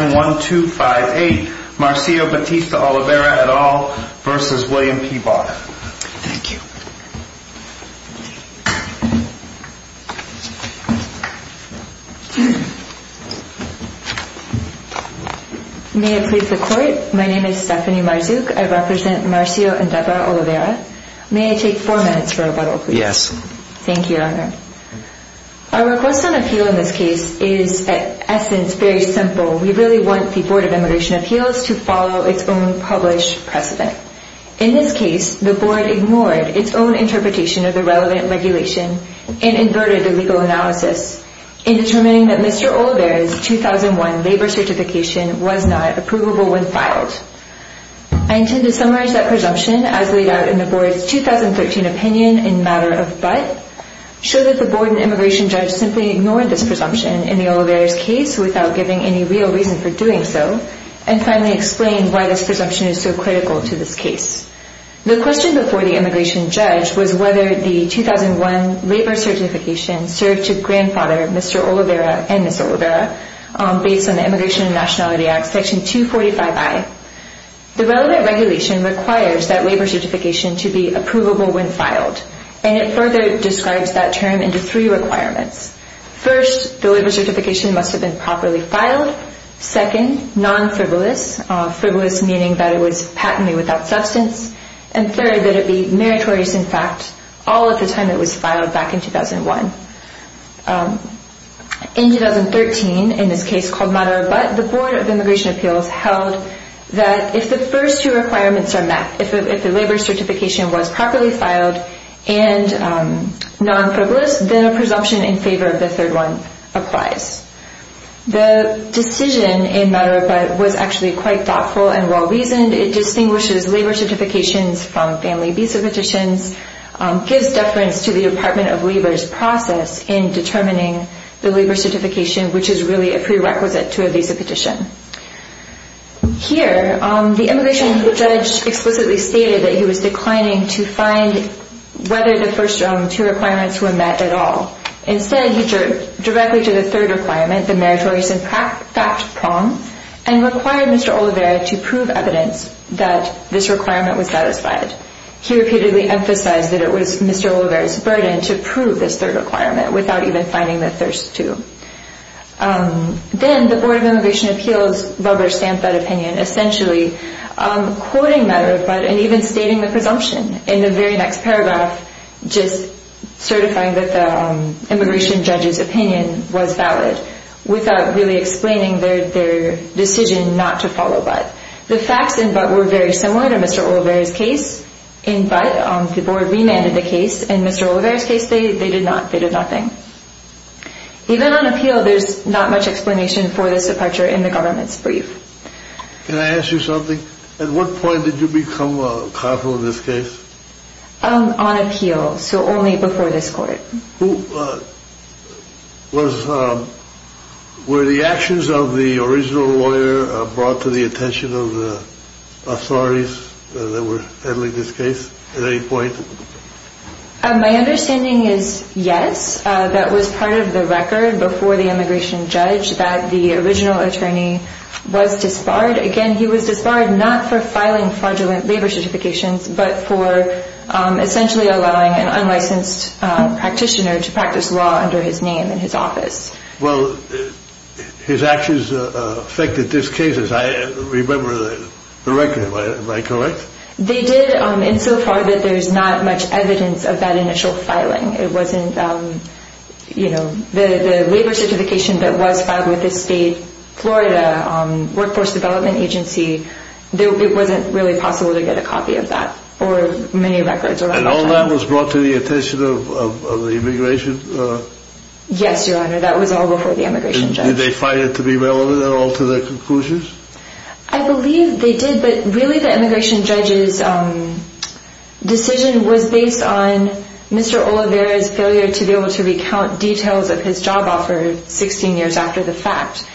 1, 2, 5, 8. Marcio Batista Oliveira et al. v. William P. Barr. Thank you. May I please the Court? My name is Stephanie Marzouk. I represent Marcio and Deborah Oliveira. May I take four minutes for a vote, please? Yes. Thank you, Your Honor. Our request on appeal in this case is, in essence, very simple. We really want the Board of Immigration Appeals to follow its own published precedent. In this case, the Board ignored its own interpretation of the relevant regulation and inverted the legal analysis in determining that Mr. Oliveira's 2001 labor certification was not approvable when filed. I intend to summarize that presumption as laid out in the Board's 2013 opinion in matter of but, show that the Board and immigration judge simply ignored this presumption in the Oliveira's case without giving any real reason for doing so, and finally explain why this presumption is so critical to this case. The question before the immigration judge was whether the 2001 labor certification served to grandfather Mr. Oliveira and Ms. Oliveira based on the Immigration and Nationality Act, Section 245I. The relevant regulation requires that labor certification to be approvable when filed, and it further describes that term into three requirements. First, the labor certification must have been properly filed. Second, non-frivolous, frivolous meaning that it was patently without substance. And third, that it be meritorious in fact all of the time it was filed back in 2001. In 2013, in this case called matter of but, the Board of Immigration Appeals held that if the first two requirements are met, if the labor certification was properly filed and non-frivolous, then a presumption in favor of the third one applies. The decision in matter of but was actually quite thoughtful and well-reasoned. It distinguishes labor certifications from family visa petitions, gives deference to the Department of Labor's process in determining the labor certification, which is really a prerequisite to a visa petition. Here, the immigration judge explicitly stated that he was declining to find whether the first two requirements were met at all. Instead, he turned directly to the third requirement, the meritorious in fact prong, and required Mr. Olivera to prove evidence that this requirement was satisfied. He repeatedly emphasized that it was Mr. Olivera's burden to prove this third requirement without even finding the first two. Then, the Board of Immigration Appeals rubber-stamped that opinion, essentially quoting matter of but and even stating the presumption in the very next paragraph, just certifying that the immigration judge's opinion was valid without really explaining their decision not to follow but. The facts in but were very similar to Mr. Olivera's case. In but, the Board remanded the case. In Mr. Olivera's case, they did nothing. Even on appeal, there's not much explanation for this departure in the government's brief. Can I ask you something? At what point did you become a counsel in this case? On appeal, so only before this court. Were the actions of the original lawyer brought to the attention of the authorities that were handling this case at any point? My understanding is yes. That was part of the record before the immigration judge that the original attorney was disbarred. Again, he was disbarred not for filing fraudulent labor certifications but for essentially allowing an unlicensed practitioner to practice law under his name in his office. Well, his actions affected this case. I remember the record. Am I correct? They did insofar that there's not much evidence of that initial filing. It wasn't, you know, the labor certification that was filed with the state, Florida, Workforce Development Agency. It wasn't really possible to get a copy of that or many records around that time. And all that was brought to the attention of the immigration? Yes, Your Honor. That was all before the immigration judge. Did they find it to be relevant at all to their conclusions? I believe they did, but really the immigration judge's decision was based on Mr. Oliveira's failure to be able to recount details of his job offer 16 years after the fact.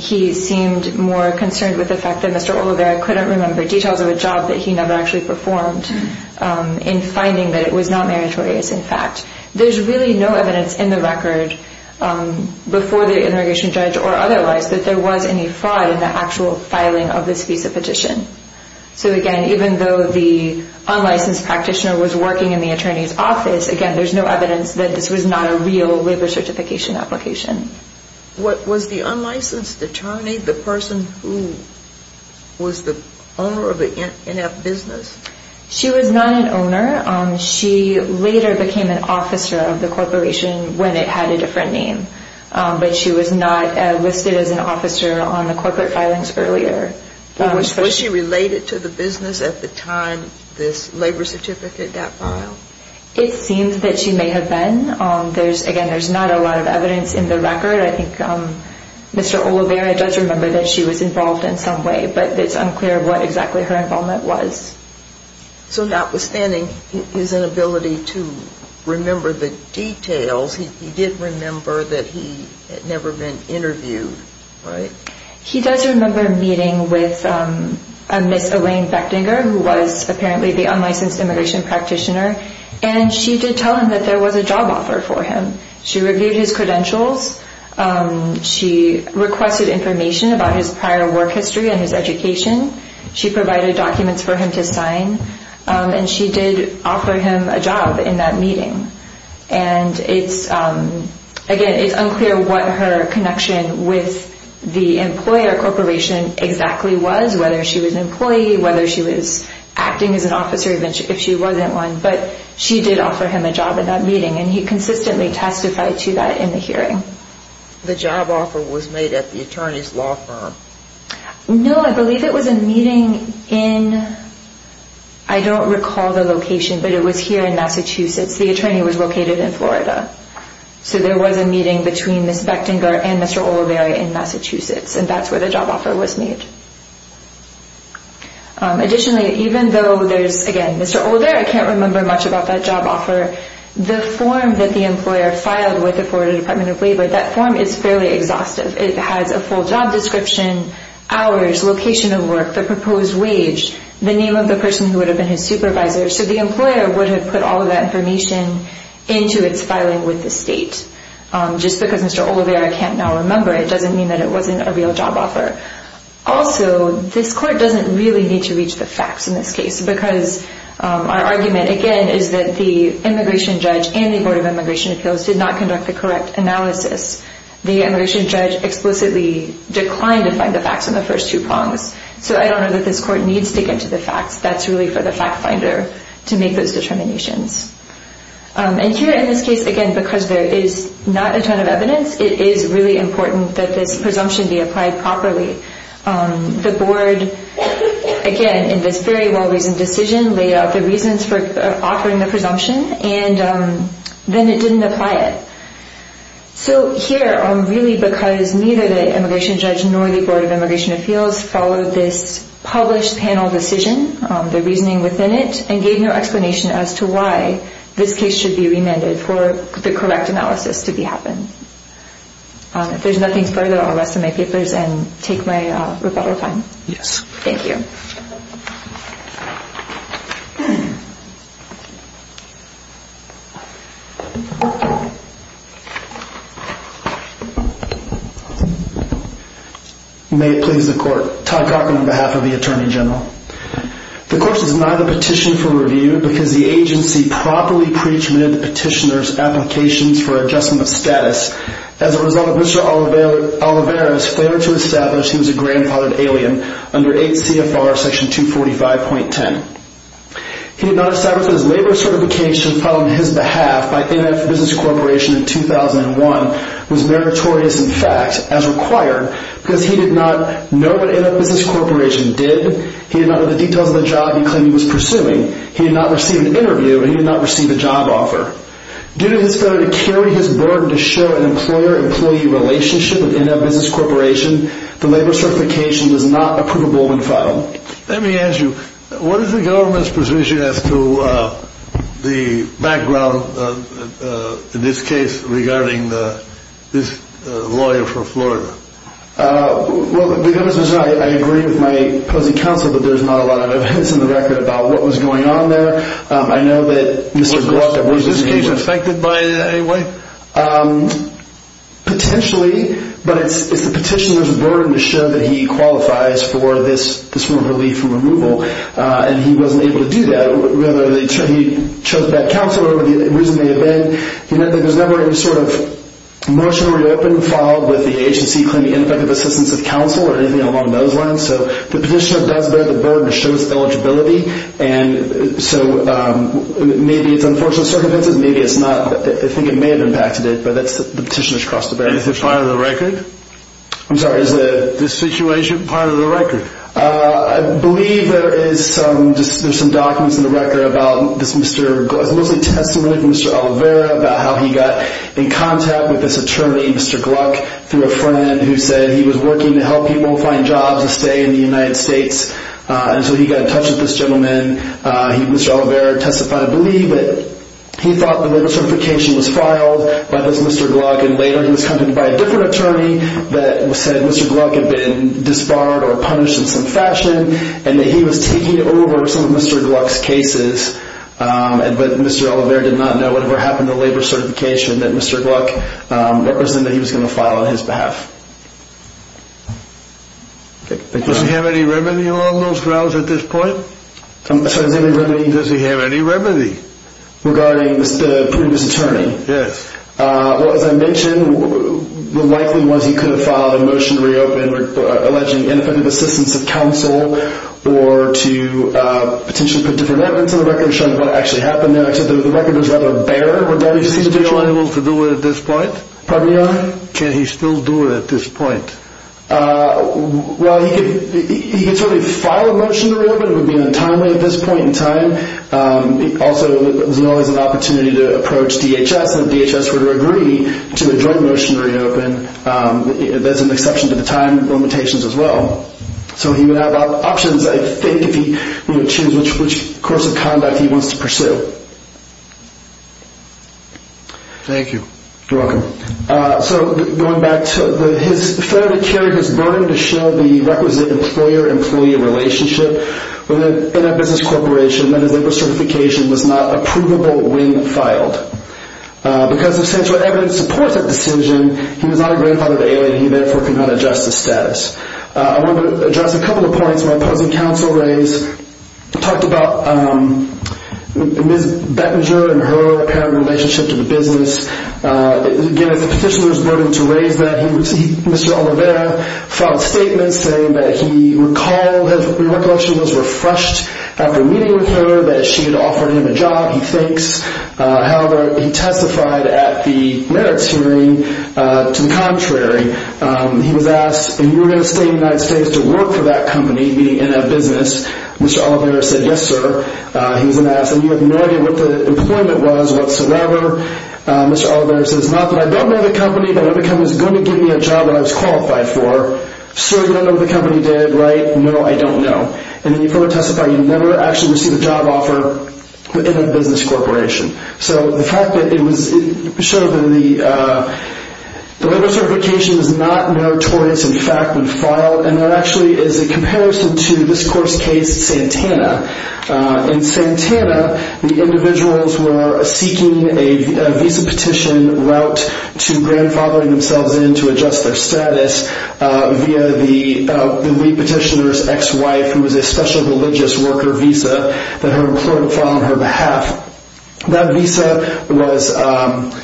He seemed more concerned with the fact that Mr. Oliveira couldn't remember details of a job that he never actually performed in finding that it was not meritorious in fact. There's really no evidence in the record before the immigration judge or otherwise that there was any fraud in the actual filing of this visa petition. So, again, even though the unlicensed practitioner was working in the attorney's office, again, there's no evidence that this was not a real labor certification application. Was the unlicensed attorney the person who was the owner of the NF business? She was not an owner. She later became an officer of the corporation when it had a different name, but she was not listed as an officer on the corporate filings earlier. Was she related to the business at the time this labor certificate got filed? It seems that she may have been. Again, there's not a lot of evidence in the record. I think Mr. Oliveira does remember that she was involved in some way, but it's unclear what exactly her involvement was. So notwithstanding his inability to remember the details, he did remember that he had never been interviewed, right? He does remember meeting with a Ms. Elaine Bechtinger, who was apparently the unlicensed immigration practitioner, and she did tell him that there was a job offer for him. She reviewed his credentials. She requested information about his prior work history and his education. She provided documents for him to sign, and she did offer him a job in that meeting. And again, it's unclear what her connection with the employer corporation exactly was, whether she was an employee, whether she was acting as an officer if she wasn't one, but she did offer him a job in that meeting, and he consistently testified to that in the hearing. The job offer was made at the attorney's law firm? No, I believe it was a meeting in, I don't recall the location, but it was here in Massachusetts. The attorney was located in Florida. So there was a meeting between Ms. Bechtinger and Mr. Oliveira in Massachusetts, and that's where the job offer was made. Additionally, even though there's, again, Mr. Oliveira can't remember much about that job offer, the form that the employer filed with the Florida Department of Labor, that form is fairly exhaustive. It has a full job description, hours, location of work, the proposed wage, the name of the person who would have been his supervisor. So the employer would have put all of that information into its filing with the state. Just because Mr. Oliveira can't now remember, it doesn't mean that it wasn't a real job offer. Also, this court doesn't really need to reach the facts in this case because our argument, again, is that the immigration judge and the Board of Immigration Appeals did not conduct the correct analysis. The immigration judge explicitly declined to find the facts on the first two prongs. So I don't know that this court needs to get to the facts. That's really for the fact finder to make those determinations. And here in this case, again, because there is not a ton of evidence, it is really important that this presumption be applied properly. The board, again, in this very well-reasoned decision, laid out the reasons for offering the presumption, and then it didn't apply it. So here, really because neither the immigration judge nor the Board of Immigration Appeals followed this published panel decision, the reasoning within it, and gave no explanation as to why this case should be remanded for the correct analysis to happen. If there's nothing further, I'll rest my papers and take my rebuttal time. Yes. Thank you. May it please the court. Todd Cochran on behalf of the Attorney General. The court has denied the petition for review because the agency properly pre-admitted the petitioner's applications for adjustment of status. As a result, Mr. Olivares failed to establish he was a grandfathered alien under 8 CFR section 245.10. He did not establish his labor certification filed on his behalf by NF Business Corporation in 2008. He did not know what NF Business Corporation did. He did not know the details of the job he claimed he was pursuing. He did not receive an interview, and he did not receive a job offer. Due to his failure to carry his burden to show an employer-employee relationship with NF Business Corporation, Let me ask you, what is the government's position as to the background of this case regarding this lawyer from Florida? Well, I agree with my opposing counsel that there's not a lot of evidence in the record about what was going on there. I know that Mr. Glock... Was this case affected by it in any way? Potentially, but it's the petitioner's burden to show that he qualifies for this form of relief and removal. And he wasn't able to do that. Whether he chose bad counsel or the reason may have been that there's never any sort of motion reopened filed with the agency claiming ineffective assistance of counsel or anything along those lines. So the petitioner does bear the burden to show his eligibility. So maybe it's unfortunate circumstances, maybe it's not. I think it may have impacted it, but the petitioner's crossed the barrier. Is it part of the record? I'm sorry, is the... The situation part of the record? I believe there is some documents in the record about this Mr. Glock... It's mostly testimony from Mr. Oliveira about how he got in contact with this attorney, Mr. Glock, through a friend who said he was working to help people find jobs to stay in the United States. And so he got in touch with this gentleman. Mr. Oliveira testified, I believe, that he thought the labor certification was filed by this Mr. Glock. And later he was contacted by a different attorney that said Mr. Glock had been disbarred or punished in some fashion and that he was taking over some of Mr. Glock's cases. But Mr. Oliveira did not know whatever happened to the labor certification that Mr. Glock... that he was going to file on his behalf. Does he have any remedy along those lines at this point? Does he have any remedy? Does he have any remedy? Regarding the previous attorney? Yes. Well, as I mentioned, the likely ones he could have filed a motion to reopen alleging ineffective assistance of counsel or to potentially put different evidence on the record showing what actually happened there, except the record was rather bare. Would that be feasible? Is he unable to do it at this point? Pardon me, Your Honor? Can he still do it at this point? Well, he could certainly file a motion to reopen. It would be in a timely at this point in time. Also, there's always an opportunity to approach DHS. And if DHS were to agree to a joint motion to reopen, there's an exception to the time limitations as well. So he would have options, I think, if he were to choose which course of conduct he wants to pursue. Thank you. You're welcome. So going back to his failure to carry his burden to show the requisite employer-employee relationship within a business corporation that his labor certification was not a provable wing filed. Because if central evidence supports that decision, he was not a grandfathered alien. He therefore could not adjust his status. I want to address a couple of points my opposing counsel raised. He talked about Ms. Bettinger and her apparent relationship to the business. Again, as a petitioner's burden to raise that, Mr. Oliveira filed a statement saying that he recalled his recollection was refreshed after meeting with her, that she had offered him a job, he thinks. However, he testified at the merits hearing to the contrary. He was asked if he were going to stay in the United States to work for that company, meaning in a business. Mr. Oliveira said, yes, sir. He was then asked if he had no idea what the employment was whatsoever. Mr. Oliveira says, not that I don't know the company, but it was going to give me a job that I was qualified for. Sir, you don't know what the company did, right? No, I don't know. And then he further testified he never actually received a job offer in a business corporation. So the fact that it showed that the labor certification is not notorious in fact when filed, and there actually is a comparison to this court's case, Santana. In Santana, the individuals were seeking a visa petition route to grandfathering themselves in to adjust their status via the petitioner's ex-wife, who was a special religious worker visa that her employer filed on her behalf. That visa was a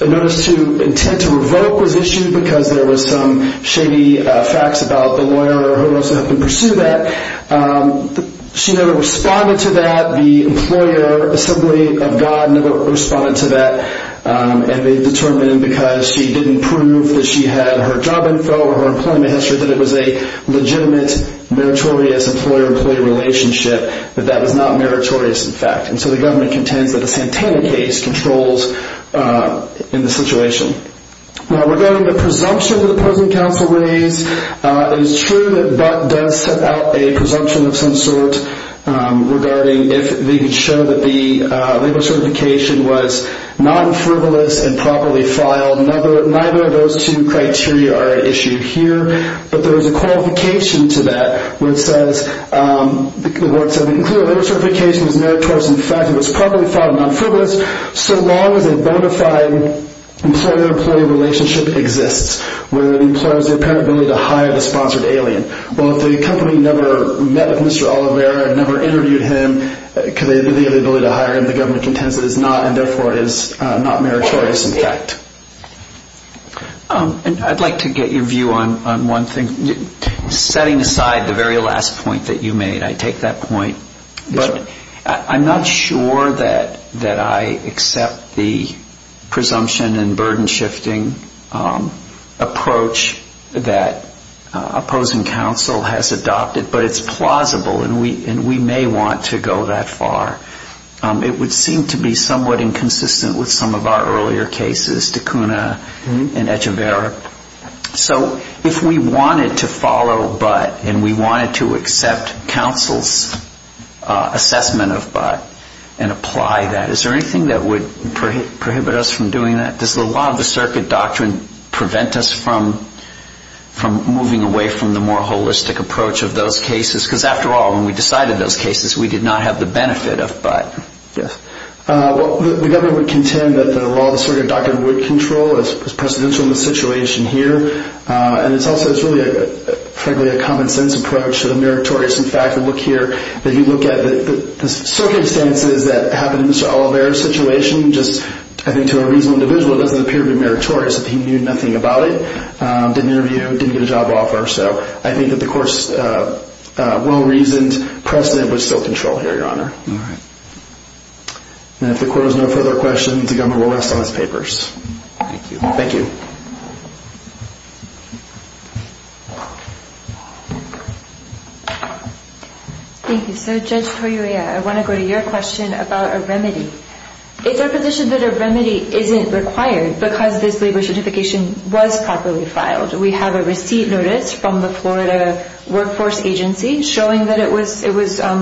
notice to intent to revoke was issued because there was some shady facts about the lawyer or whoever else who helped him pursue that. She never responded to that. The Employer Assembly of God never responded to that. And they determined because she didn't prove that she had her job info or her employment history, that it was a legitimate meritorious employer-employee relationship, that that was not meritorious in fact. And so the government contends that the Santana case controls in the situation. Now regarding the presumption that the opposing counsel raised, it is true that Butt does set out a presumption of some sort regarding if they could show that the labor certification was non-frivolous and properly filed. Neither of those two criteria are issued here. But there is a qualification to that where it says, that the labor certification was meritorious in fact and was properly filed and non-frivolous so long as a bona fide employer-employee relationship exists, where the employer has the apparent ability to hire the sponsored alien. Well, if the company never met with Mr. Oliveira and never interviewed him, because they have the ability to hire him, the government contends that it is not, and therefore it is not meritorious in fact. And I'd like to get your view on one thing. Setting aside the very last point that you made, I take that point. But I'm not sure that I accept the presumption and burden shifting approach that opposing counsel has adopted, but it's plausible and we may want to go that far. It would seem to be somewhat inconsistent with some of our earlier cases, Tacuna and Echeverria. So if we wanted to follow but and we wanted to accept counsel's assessment of but and apply that, is there anything that would prohibit us from doing that? Does a lot of the circuit doctrine prevent us from moving away from the more holistic approach of those cases? Because after all, when we decided those cases, we did not have the benefit of but. Yes. Well, the government would contend that the law, the circuit doctrine, would control, as precedential in the situation here. And it's also, frankly, a common sense approach, meritorious in fact. If you look at the circumstances that happened in Mr. Oliveira's situation, I think to a reasonable individual it doesn't appear to be meritorious that he knew nothing about it, didn't interview, didn't get a job offer. So I think that the court's well-reasoned precedent would still control here, Your Honor. All right. And if the court has no further questions, the government will rest on its papers. Thank you. Thank you. Thank you. So, Judge Toyoiya, I want to go to your question about a remedy. It's our position that a remedy isn't required because this labor certification was properly filed. We have a receipt notice from the Florida Workforce Agency showing that it was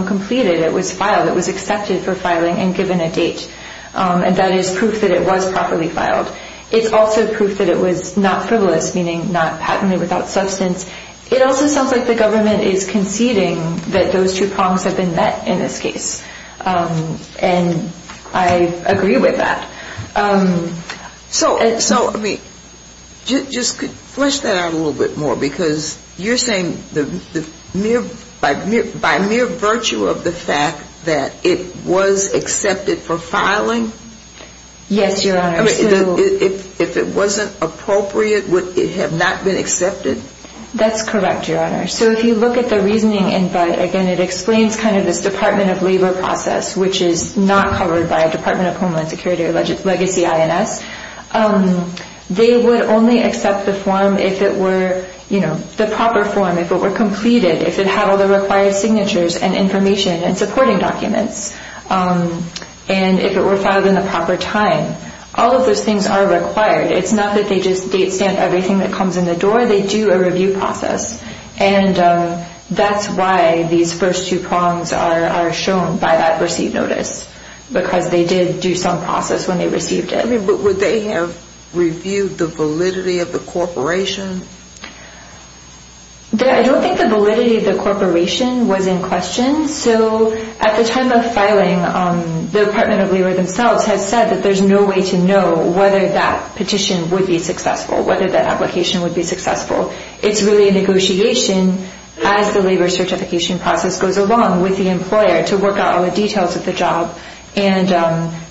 completed, it was filed, it was accepted for filing and given a date. And that is proof that it was properly filed. It's also proof that it was not frivolous, meaning not patently without substance. It also sounds like the government is conceding that those two prongs have been met in this case. And I agree with that. So, I mean, just flesh that out a little bit more, because you're saying by mere virtue of the fact that it was accepted for filing? Yes, Your Honor. If it wasn't appropriate, would it have not been accepted? That's correct, Your Honor. So if you look at the reasoning, again, it explains kind of this Department of Labor process, which is not covered by Department of Homeland Security or Legacy INS. They would only accept the form if it were, you know, the proper form, if it were completed, if it had all the required signatures and information and supporting documents, and if it were filed in the proper time. All of those things are required. It's not that they just date stamp everything that comes in the door. They do a review process. And that's why these first two prongs are shown by that receipt notice, because they did do some process when they received it. But would they have reviewed the validity of the corporation? I don't think the validity of the corporation was in question. So at the time of filing, the Department of Labor themselves had said that there's no way to know whether that petition would be successful, whether that application would be successful. It's really a negotiation as the labor certification process goes along with the employer to work out all the details of the job and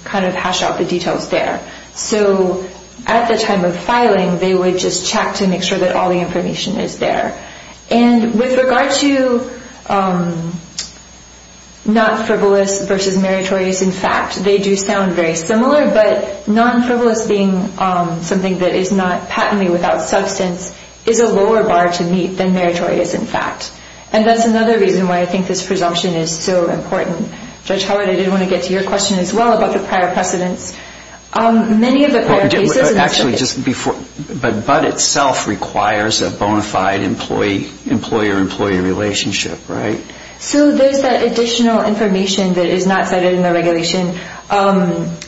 kind of hash out the details there. So at the time of filing, they would just check to make sure that all the information is there. And with regard to non-frivolous versus meritorious, in fact, they do sound very similar, but non-frivolous being something that is not patently without substance is a lower bar to meet than meritorious, in fact. And that's another reason why I think this presumption is so important. Judge Howard, I did want to get to your question as well about the prior precedents. Many of the prior cases— Actually, but itself requires a bona fide employer-employee relationship, right? So there's that additional information that is not cited in the regulation.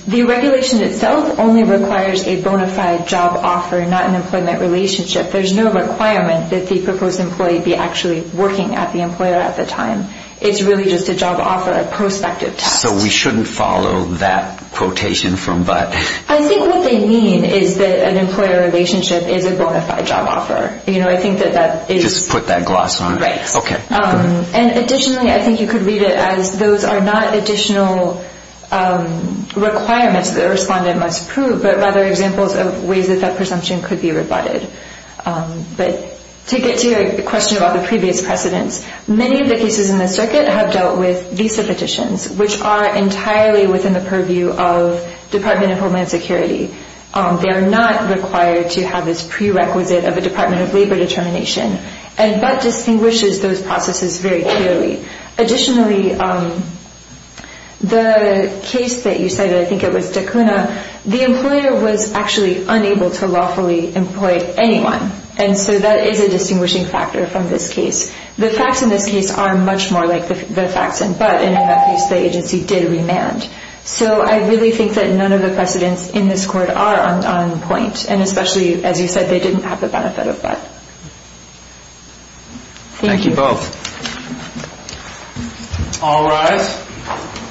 The regulation itself only requires a bona fide job offer, not an employment relationship. There's no requirement that the proposed employee be actually working at the employer at the time. It's really just a job offer, a prospective test. So we shouldn't follow that quotation from Butt. I think what they mean is that an employer relationship is a bona fide job offer. You know, I think that that is— Just put that gloss on. Right. Okay. And additionally, I think you could read it as those are not additional requirements that a respondent must prove, but rather examples of ways that that presumption could be rebutted. But to get to your question about the previous precedents, many of the cases in the circuit have dealt with visa petitions, which are entirely within the purview of Department of Homeland Security. They are not required to have this prerequisite of a Department of Labor determination. And Butt distinguishes those processes very clearly. Additionally, the case that you cited, I think it was DeCuna, the employer was actually unable to lawfully employ anyone, and so that is a distinguishing factor from this case. The facts in this case are much more like the facts in Butt, and in that case, the agency did remand. So I really think that none of the precedents in this court are on point, Thank you both. All rise.